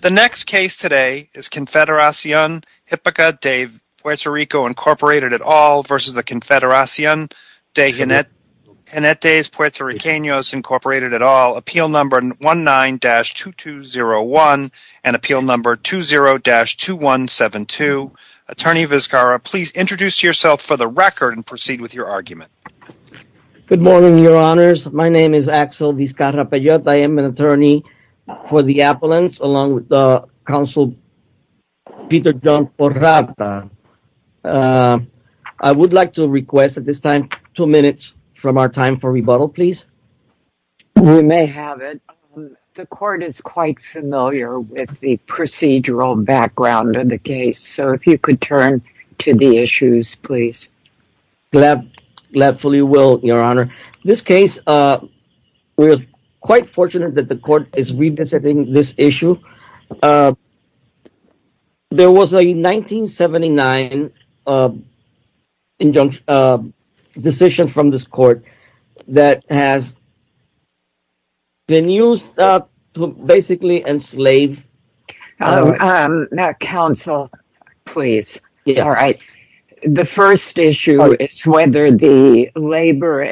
The next case today is Confederacion Hipica de Puerto Rico, Inc. et al. v. Confederacion de Jinetes Puerto Ricanos, Inc. et al. Appeal No. 19-2201 and Appeal No. 20-2172. Attorney Vizcarra, please introduce yourself for the record and proceed with your argument. Good morning, your honors. My name is Axel Vizcarra-Pellot. I am an attorney for the appellants along with the counsel Peter John Porrata. I would like to request at this time two minutes from our time for rebuttal, please. We may have it. The court is quite familiar with the procedural background of the case, so if you could turn to the issues, please. Gladfully will, your honor. This case, we are quite fortunate that the court is revisiting this issue. There was a 1979 decision from this court that has been used to basically enslave the people. Counsel, please. The first issue is whether the labor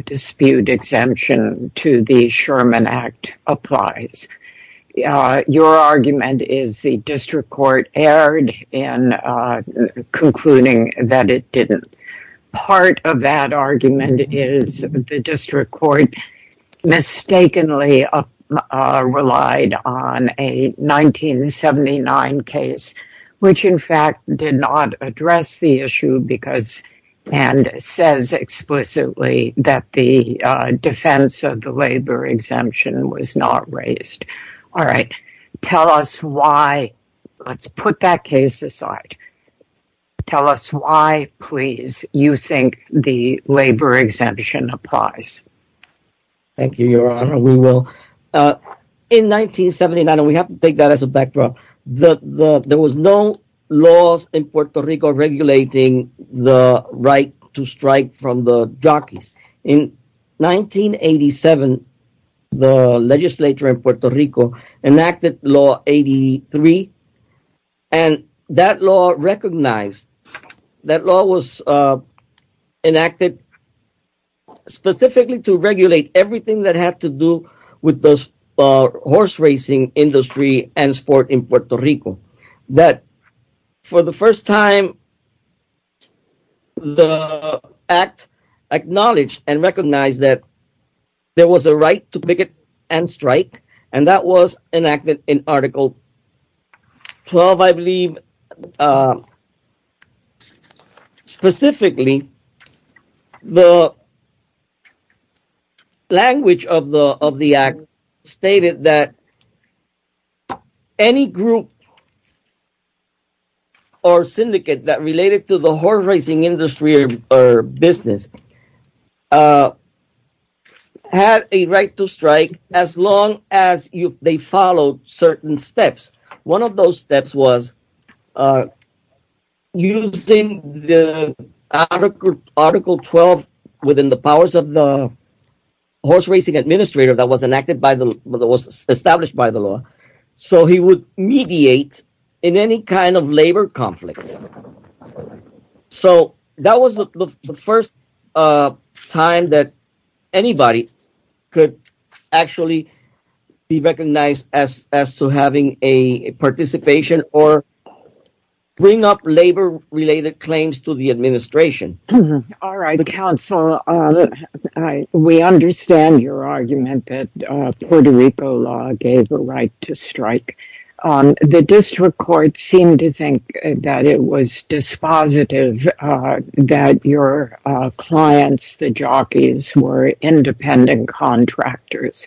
dispute exemption to the Sherman Act applies. Your argument is the district court erred in concluding that it didn't. Part of that argument is the district court mistakenly relied on a 1979 case, which in fact did not address the issue and says explicitly that the defense of the labor exemption was not raised. All right. Tell us why. Let's put that case aside. Tell us why, please, you think the labor exemption applies. Thank you, your honor. We will. In 1979, and we have to take that as a backdrop, there was no laws in Puerto Rico regulating the right to strike from the jockeys. In 1987, the legislature in Puerto Rico enacted law 83, and that law recognized, that law was enacted specifically to regulate everything that had to do with the horse racing industry and sport in Puerto Rico. For the first time, the act acknowledged and recognized that there was a right to picket and strike, and that was enacted in Article 12, I believe. Specifically, the language of the act stated that any group or syndicate that related to the horse racing industry or business had a right to strike as long as they followed certain steps. One of those steps was using the Article 12 within the powers of the horse racing administrator that was established by the law, so he would mediate in any kind of labor conflict. So, that was the first time that anybody could actually be recognized as to having a participation or bring up labor-related claims to the administration. All right, counsel. We understand your argument that Puerto Rico law gave a right to strike. The district court seemed to think that it was dispositive that your clients, the jockeys, were independent contractors.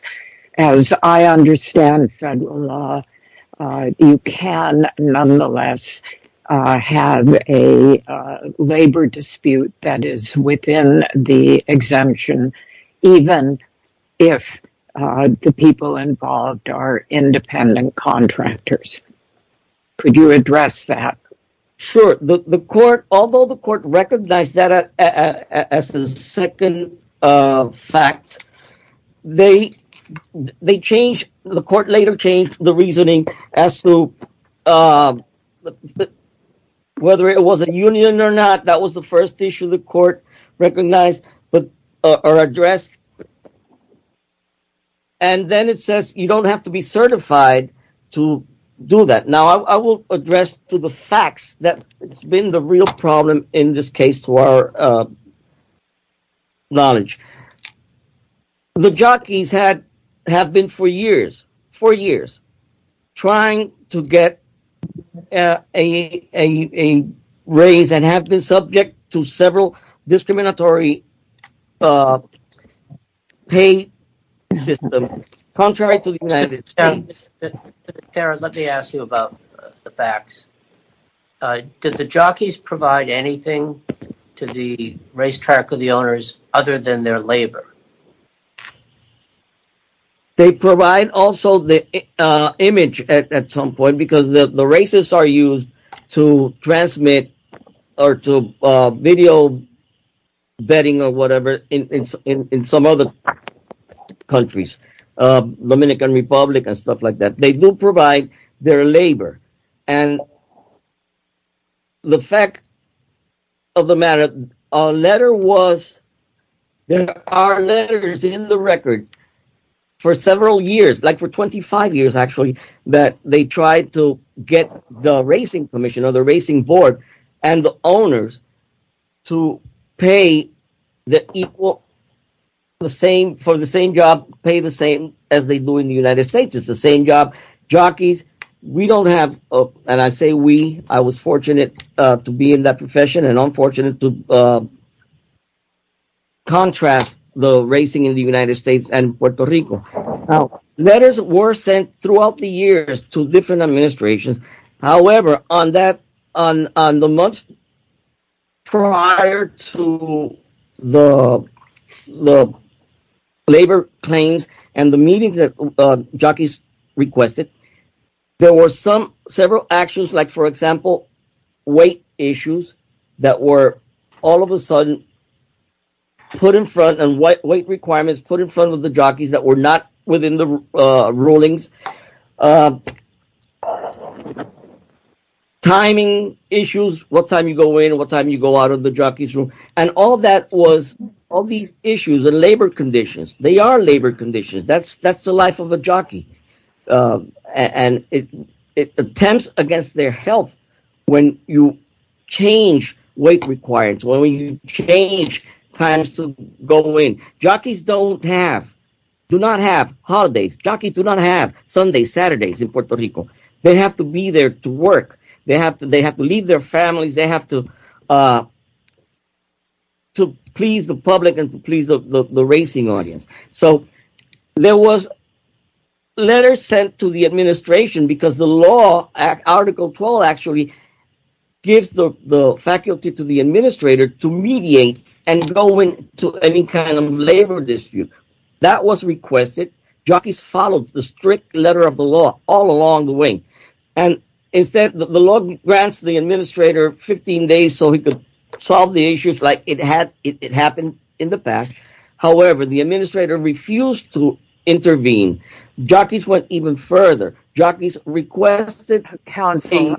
As I understand federal law, you can, nonetheless, have a labor dispute that is within the exemption, even if the people involved are independent contractors. Could you address that? Sure. Although the court recognized that as a second fact, the court later changed the reasoning as to whether it was a union or not. That was the first issue the court recognized or addressed, and then it says you don't have to be certified to do that. Now, I will address to the facts that it's been the real problem in this case to our knowledge. The jockeys have been for years trying to get a raise and have been subject to several discriminatory pay systems. Contrary to the United States. Let me ask you about the facts. Did the jockeys provide anything to the racetrack of the owners other than their labor? They provide also the image at some point because the races are used to transmit or to video betting or whatever in some other countries, the Dominican Republic and stuff like that. They do provide their labor and the fact of the matter, there are letters in the record for several years, like for 25 years actually, that they tried to get the racing commission or the owners to pay the equal, for the same job, pay the same as they do in the United States. It's the same job. Jockeys, we don't have, and I say we, I was fortunate to be in that profession and unfortunate to contrast the racing in the United States and Puerto Rico. Letters were sent throughout the years to different administrations. However, on the months prior to the labor claims and the meetings that jockeys requested, there were several actions, like for example, weight issues that were all of a sudden put in front and weight requirements put in front of the jockeys that were not in the rulings. Timing issues, what time you go in and what time you go out of the jockey's room. All these issues and labor conditions, they are labor conditions. That's the life of a jockey. Attempts against their health when you change weight requirements, when you change times to go in. Jockeys do not have holidays. Jockeys do not have Sundays, Saturdays in Puerto Rico. They have to be there to work. They have to leave their families. They have to please the public and please the racing audience. There were letters sent to the administration because the law, Article 12 actually, gives the faculty to the administrator to mediate and go into any kind of labor dispute. That was requested. Jockeys followed the strict letter of the law all along the way. Instead, the law grants the administrator 15 days so he could solve the issues like it happened in the past. However, the administrator refused to intervene. Jockeys went even further. Jockeys requested counsel.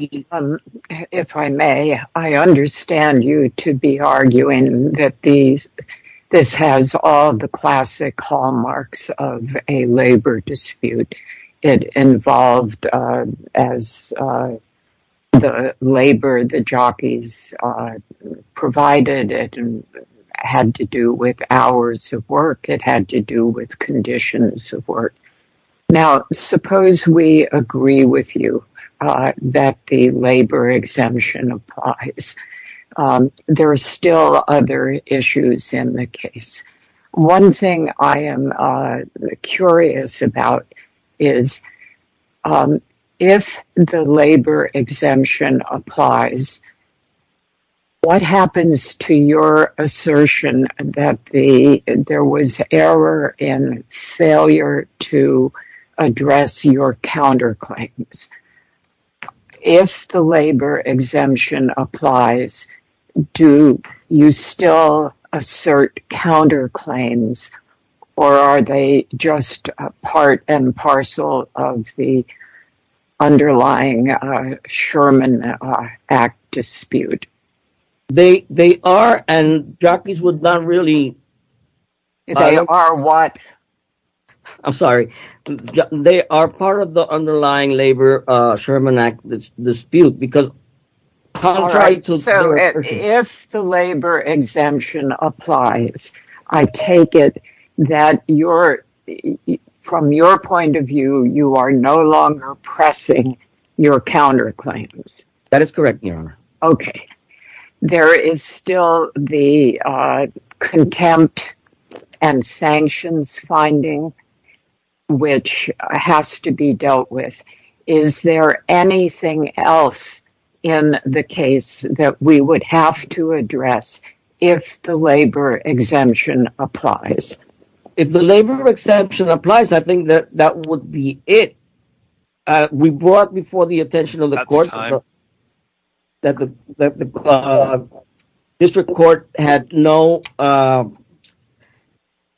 If I may, I understand you to be arguing that this has all the classic hallmarks of a labor dispute. It involved, as the labor the jockeys provided, it had to do with hours of work. It had to do with conditions of work. Now, suppose we agree with you that the labor exemption applies. There are still other issues in the case. One thing I am curious about is, if the labor exemption applies, what happens to your assertion that there was error and failure to address your counterclaims? If the labor exemption applies, do you still assert counterclaims or are they just part and parcel of the underlying Sherman Act dispute? They are part of the underlying labor Sherman Act dispute. All right, so if the labor exemption applies, I take it that from your point of view, you are no longer pressing your counterclaims. That is correct, Your Honor. Okay. There is still the contempt and sanctions finding which has to be dealt with. Is there anything else in the case that we would have to address if the labor exemption applies? If the labor exemption applies, I think that would be it. We brought before the attention of the court that the district court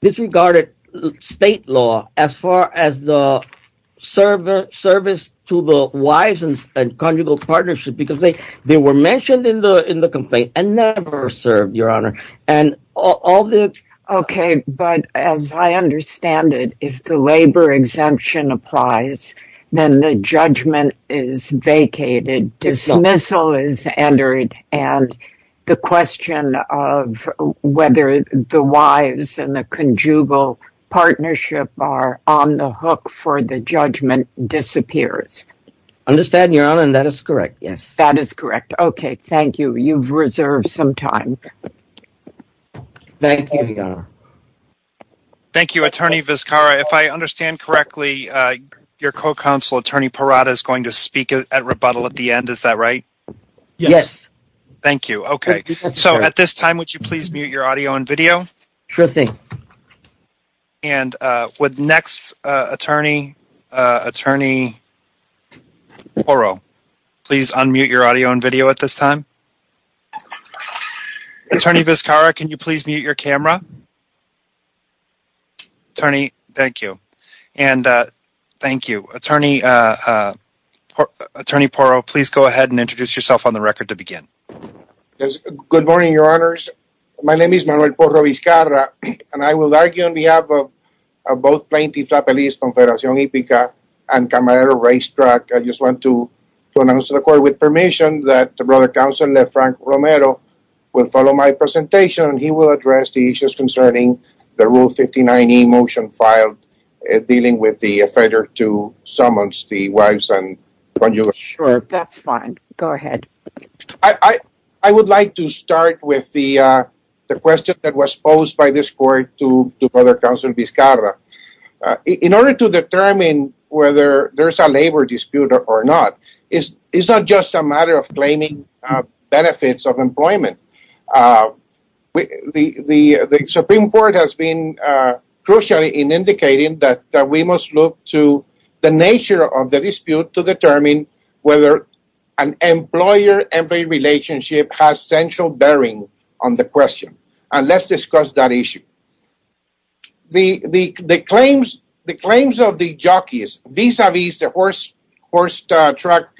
disregarded state law as far as the service to the wives and conjugal partnership because they were mentioned in the complaint and never served, Your Honor. All right, but as I understand it, if the labor exemption applies, then the judgment is vacated, dismissal is entered, and the question of whether the wives and the conjugal partnership are on the hook for the judgment disappears. I understand, Your Honor, and that is correct, yes. That is correct. Okay, thank you. You have reserved some time. Thank you, Your Honor. Thank you, Attorney Vizcarra. If I understand correctly, your co-counsel, Attorney Parada, is going to speak at rebuttal at the end, is that right? Yes. Thank you. Okay, so at this time, would you please mute your audio and video? Sure thing. And would next attorney, Attorney Porro, please unmute your audio and video at this time? Attorney Vizcarra, can you please mute your camera? Attorney, thank you, and thank you. Attorney Porro, please go ahead and introduce yourself on the record to begin. Yes, good morning, Your Honors. My name is Manuel Porro Vizcarra, and I will argue on behalf of both Plaintiff's Appellees, Confederation Ipica, and Camarero Racetrack. I just want to announce to the court with permission that the Brother Counsel, Lefranc Romero, will follow my presentation, and he will address the issues concerning the Rule 59e motion filed dealing with the offender to summons the wives and conjugates. Sure, that's fine. Go ahead. I would like to start with the question that was posed by this court to Brother Counsel Vizcarra. In order to determine whether there's a labor dispute or not, it's not just a matter of claiming benefits of employment. The Supreme Court has been crucial in indicating that we must look to the nature of the dispute to determine whether an employer-employee relationship has central on the question, and let's discuss that issue. The claims of the jockeys vis-a-vis the horse track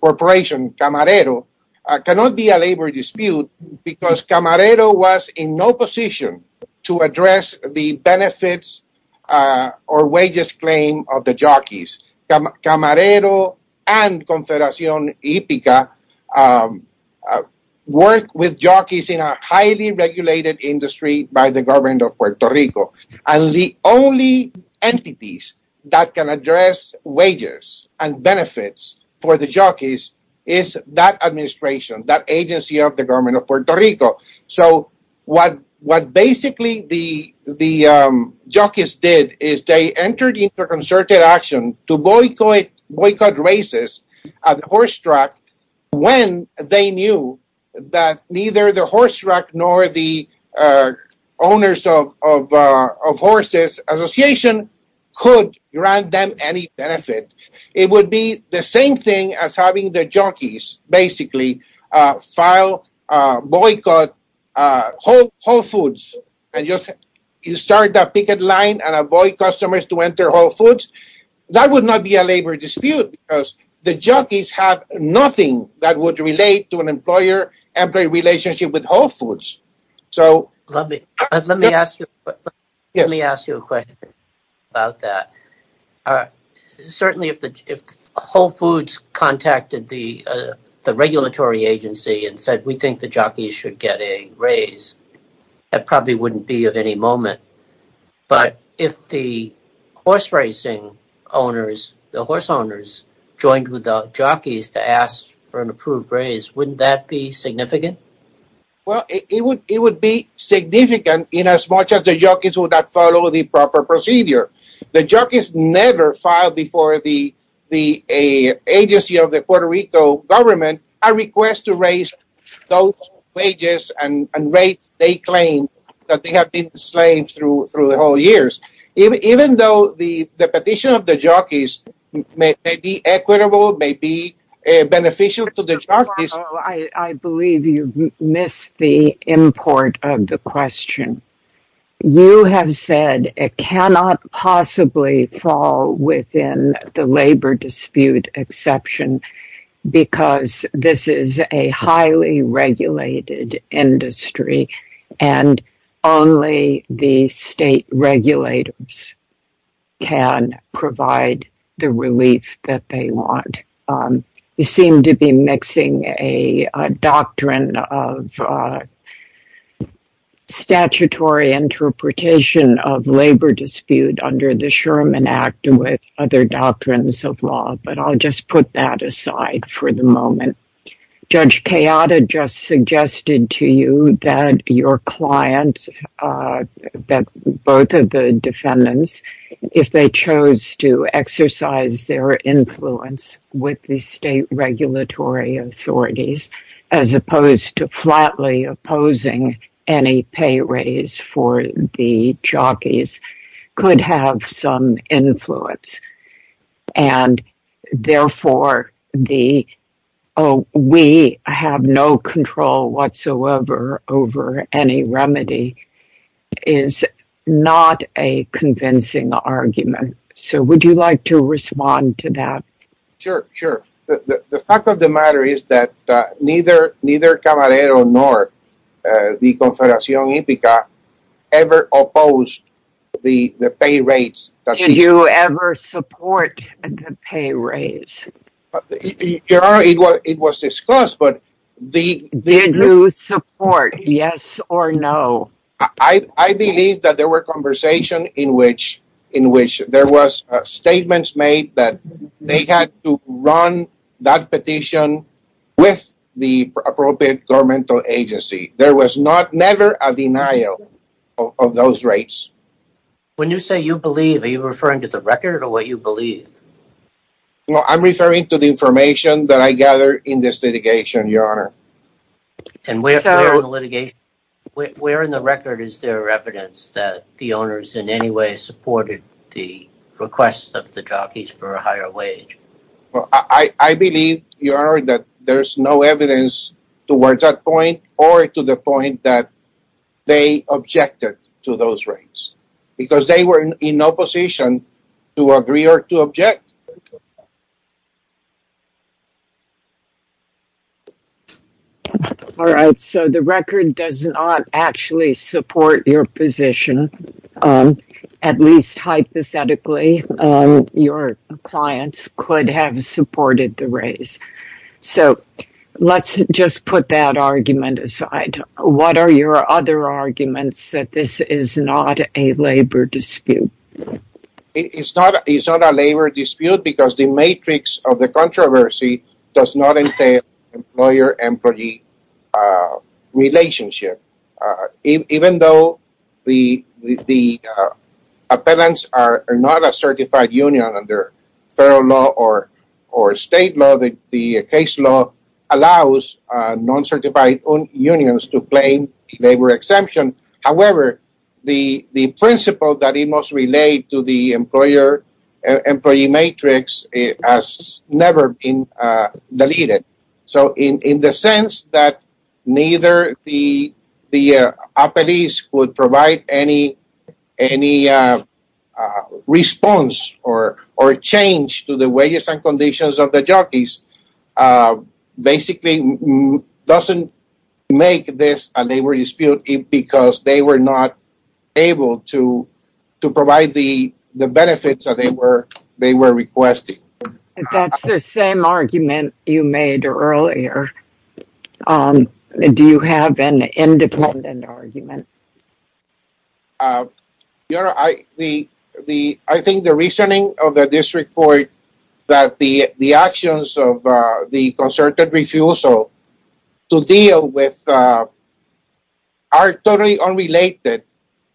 corporation, Camarero, cannot be a labor dispute because Camarero was in no position to address the benefits or wages claim of the jockeys. Camarero and Confederation Ipica work with jockeys in a highly regulated industry by the government of Puerto Rico, and the only entities that can address wages and benefits for the jockeys is that administration, that agency of the government of Puerto Rico. So what basically the jockeys did is they entered concerted action to boycott races at the horse track when they knew that neither the horse track nor the owners of horses association could grant them any benefit. It would be the same thing as having the jockeys basically file boycott Whole Foods and just start that picket line and avoid customers to enter Whole Foods. That would not be a labor dispute because the jockeys have nothing that would relate to an employer-employee relationship with Whole Foods. Let me ask you a question about that. Certainly if Whole Foods contacted the regulatory agency and said we think the jockeys should get a raise, that probably wouldn't be of any moment, but if the horse racing owners joined with the jockeys to ask for an approved raise, wouldn't that be significant? Well, it would be significant in as much as the jockeys would not follow the proper procedure. The jockeys never filed before the agency of the Puerto Rico government a request to raise those wages and rates they claim that they have been enslaved through the whole years, even though the petition of the jockeys may be equitable, may be beneficial to the jockeys. I believe you missed the import of the question. You have said it cannot possibly fall within the labor dispute exception because this is a highly regulated industry and only the state regulators can provide the relief that they want. You seem to be mixing a doctrine of interpretation of labor dispute under the Sherman Act with other doctrines of law, but I'll just put that aside for the moment. Judge Kayada just suggested to you that your client, that both of the defendants, if they chose to exercise their influence with the state regulatory authorities, as opposed to flatly opposing any pay raise for the jockeys, could have some influence and therefore we have no control whatsoever over any remedy is not a convincing argument. So, would you like to respond to that? Sure, sure. The fact of the matter is that neither Camarero nor the Confederación Hípica ever opposed the pay raise. Did you ever support the pay raise? It was discussed, but did you support, yes or no? I believe that there were in which there were statements made that they had to run that petition with the appropriate governmental agency. There was never a denial of those rates. When you say you believe, are you referring to the record or what you believe? I'm referring to the information that I gathered in this litigation, your honor. And where in the litigation, where in the record is there evidence that the owners in any way supported the request of the jockeys for a higher wage? Well, I believe, your honor, that there's no evidence towards that point or to the point that they objected to those rates because they were in no position to agree or to object. All right. So, the record does not actually support your position. At least hypothetically, your clients could have supported the raise. So, let's just put that argument aside. What are your other arguments that this is not a labor dispute? It's not a labor dispute because the matrix of the controversy does not entail employer-employee relationship. Even though the appellants are not a certified union under federal law or state law, the case allows non-certified unions to claim labor exemption. However, the principle that it must relate to the employer-employee matrix has never been deleted. So, in the sense that neither the appellees would provide any response or change to the wages and conditions of the jockeys, basically doesn't make this a labor dispute because they were not able to provide the benefits that they were requesting. That's the same argument you made earlier. Do you have an independent argument? Your honor, I think the reasoning of the district court that the actions of the concerted refusal to deal with are totally unrelated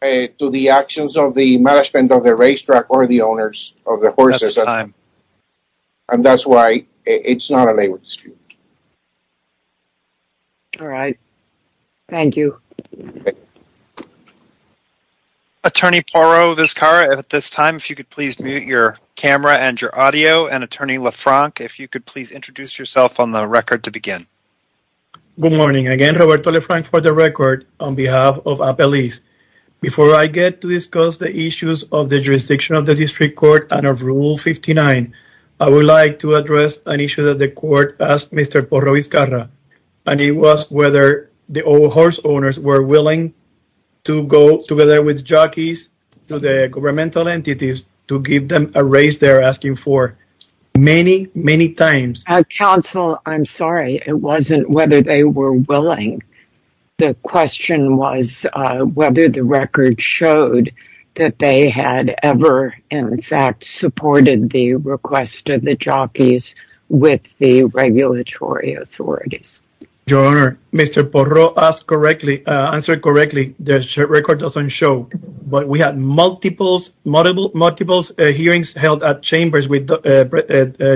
to the actions of the management of the racetrack or the owners of the horses. And that's why it's not a labor dispute. All right. Thank you. Okay. Attorney Porro Vizcarra, at this time, if you could please mute your camera and your audio. And attorney LaFranc, if you could please introduce yourself on the record to begin. Good morning. Again, Roberto LaFranc for the record on behalf of appellees. Before I get to discuss the issues of the jurisdiction of the district court and of rule 59, I would like to to go together with jockeys, the governmental entities to give them a raise they're asking for many, many times. Counsel, I'm sorry. It wasn't whether they were willing. The question was whether the record showed that they had ever, in fact, supported the request of the jockeys with the regulatory authorities. Your Honor, Mr. Porro asked correctly, answered correctly. The record doesn't show, but we had multiple hearings held at chambers with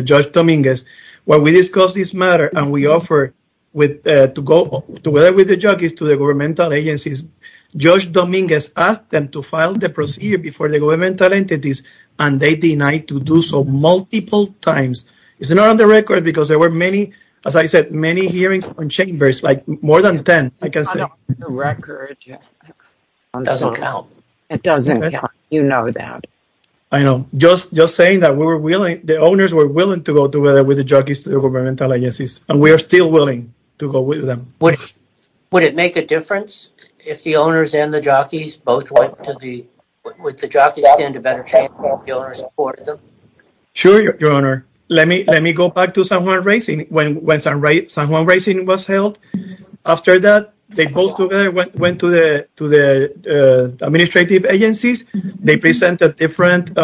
Judge Dominguez. When we discussed this matter and we offered to go together with the jockeys to the governmental agencies, Judge Dominguez asked them to file the procedure before the times. It's not on the record because there were many, as I said, many hearings on chambers, like more than 10, I can say. It doesn't count. It doesn't count. You know that. I know. Just saying that we were willing, the owners were willing to go together with the jockeys to the governmental agencies, and we are still willing to go with them. Would it make a difference if the owners and the jockeys both went to the, would the jockeys stand a better chance if the owners, let me go back to San Juan Racing when San Juan Racing was held. After that, they both went to the administrative agencies. They presented different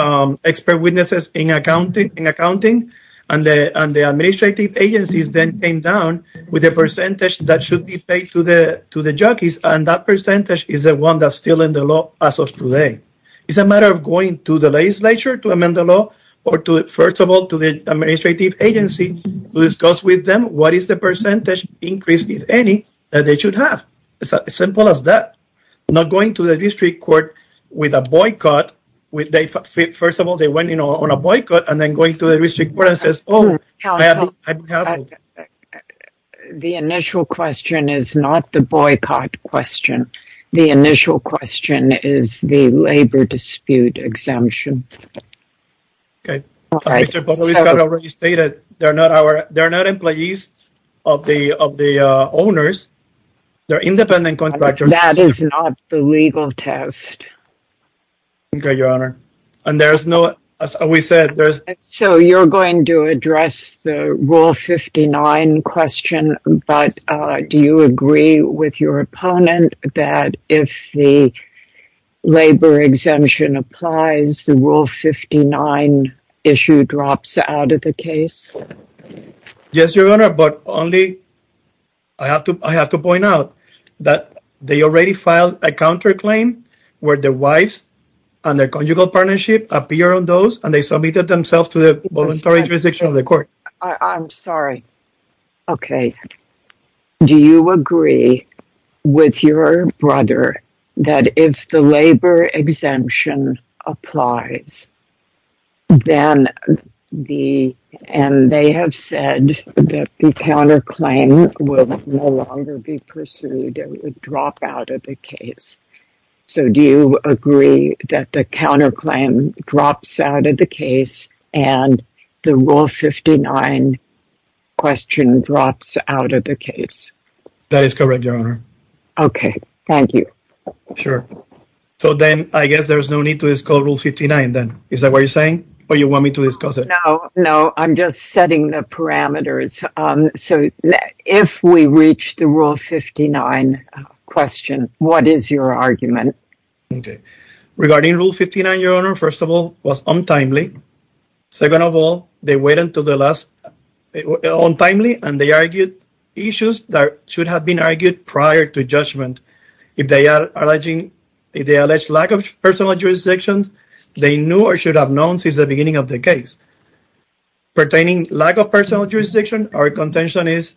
expert witnesses in accounting, and the administrative agencies then came down with a percentage that should be paid to the jockeys, and that percentage is the one that's still in the law as of today. It's a matter of going to the legislature to amend the law or to, first of all, to the administrative agency to discuss with them what is the percentage increase, if any, that they should have. It's as simple as that. Not going to the district court with a boycott. First of all, they went, you know, on a boycott and then going to the district court and says, oh. The initial question is not the boycott question. The initial question is the labor dispute exemption. Okay. They're not our, they're not employees of the owners. They're independent contractors. That is not the legal test. Okay, your honor. And there's no, as we said, there's. So you're going to address the rule 59 question, but do you agree with your opponent that if the labor exemption applies, the rule 59 issue drops out of the case? Yes, your honor, but only, I have to, I have to point out that they already filed a counterclaim where the wives and their voluntary jurisdiction of the court. I'm sorry. Okay. Do you agree with your brother that if the labor exemption applies, then the, and they have said that the counterclaim will no longer be pursued. It would drop out of the case. So do you agree that the counterclaim drops out of the case and the rule 59 question drops out of the case? That is correct, your honor. Okay. Thank you. Sure. So then I guess there's no need to discuss rule 59 then. Is that what you're saying? Or you want me to discuss it? No, no. I'm just setting the parameters. So if we reach the rule 59 question, what is your argument? Okay. Regarding rule 59, your honor, first of all, was untimely. Second of all, they waited until the last, untimely and they argued issues that should have been argued prior to judgment. If they are alleging, if they allege lack of personal jurisdiction, they knew or should have known since the beginning of the case. Pertaining lack of personal jurisdiction, our contention is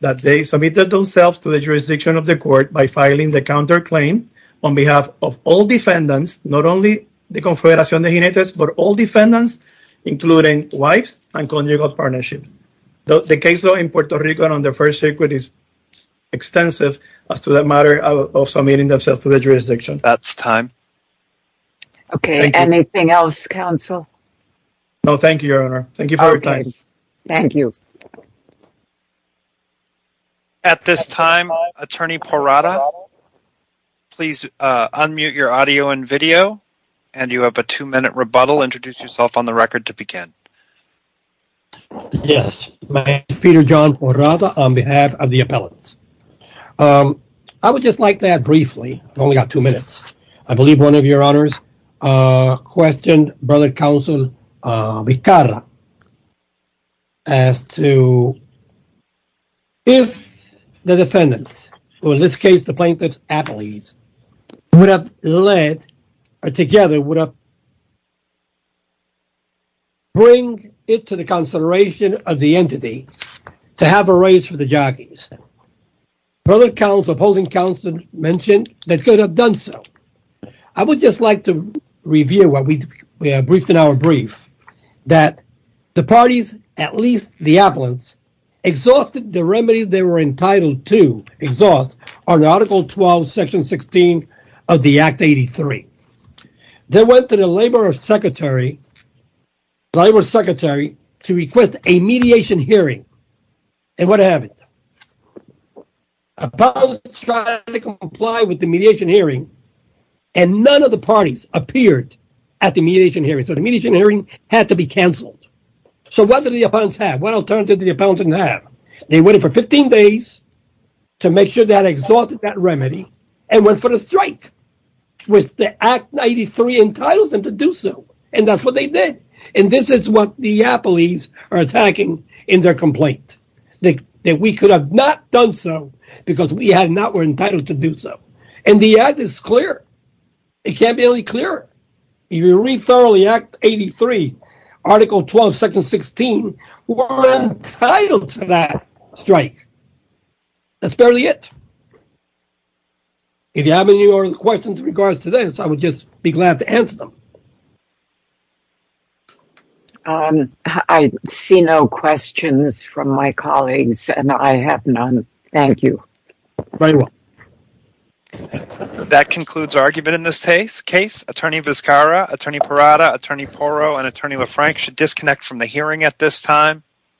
that they submitted themselves to the jurisdiction of the court by filing the counterclaim on behalf of all defendants, not only the confederación de jinetes, but all defendants, including wives and conjugal partnership. The case law in Puerto Rico under first circuit is extensive as to the matter of submitting themselves to the jurisdiction. That's time. Okay. Anything else, counsel? No, thank you, your honor. Thank you for your time. Thank you. At this time, attorney Porrada, please unmute your audio and video and you have a two-minute rebuttal. Introduce yourself on the record to begin. Yes, my name is Peter John Porrada on behalf of the appellants. I would just like to add briefly, I've only got two minutes. I believe one of your honors questioned brother counsel Vicarra as to if the defendants, or in this case, the plaintiffs appellees, would have led or together would have bring it to the consideration of the entity to have a race for the jockeys. Brother counsel, mentioned they could have done so. I would just like to review what we have briefed in our brief that the parties, at least the appellants, exhausted the remedies they were entitled to exhaust on article 12 section 16 of the act 83. They went to the labor secretary the labor secretary to request a mediation hearing and what happened? Appellants tried to comply with the mediation hearing and none of the parties appeared at the mediation hearing. So, the mediation hearing had to be canceled. So, what did the appellants have? What alternative did the appellants have? They waited for 15 days to make sure they had exhausted that remedy and went for the strike which the act 93 entitles them to do so and that's what they did and this is what the appellees are attacking in their complaint. That we could have not done so because we had not were entitled to do so and the act is clear. It can't be only clear if you read thoroughly act 83 article 12 section 16 were entitled to that strike. That's barely it. If you have any questions in regards to this, I would just be glad to answer them. I see no questions from my colleagues and I have none. Thank you. Very well. That concludes argument in this case. Attorney Vizcarra, Attorney Parada, Attorney Porro, and Attorney LaFranche should disconnect from the hearing at this time.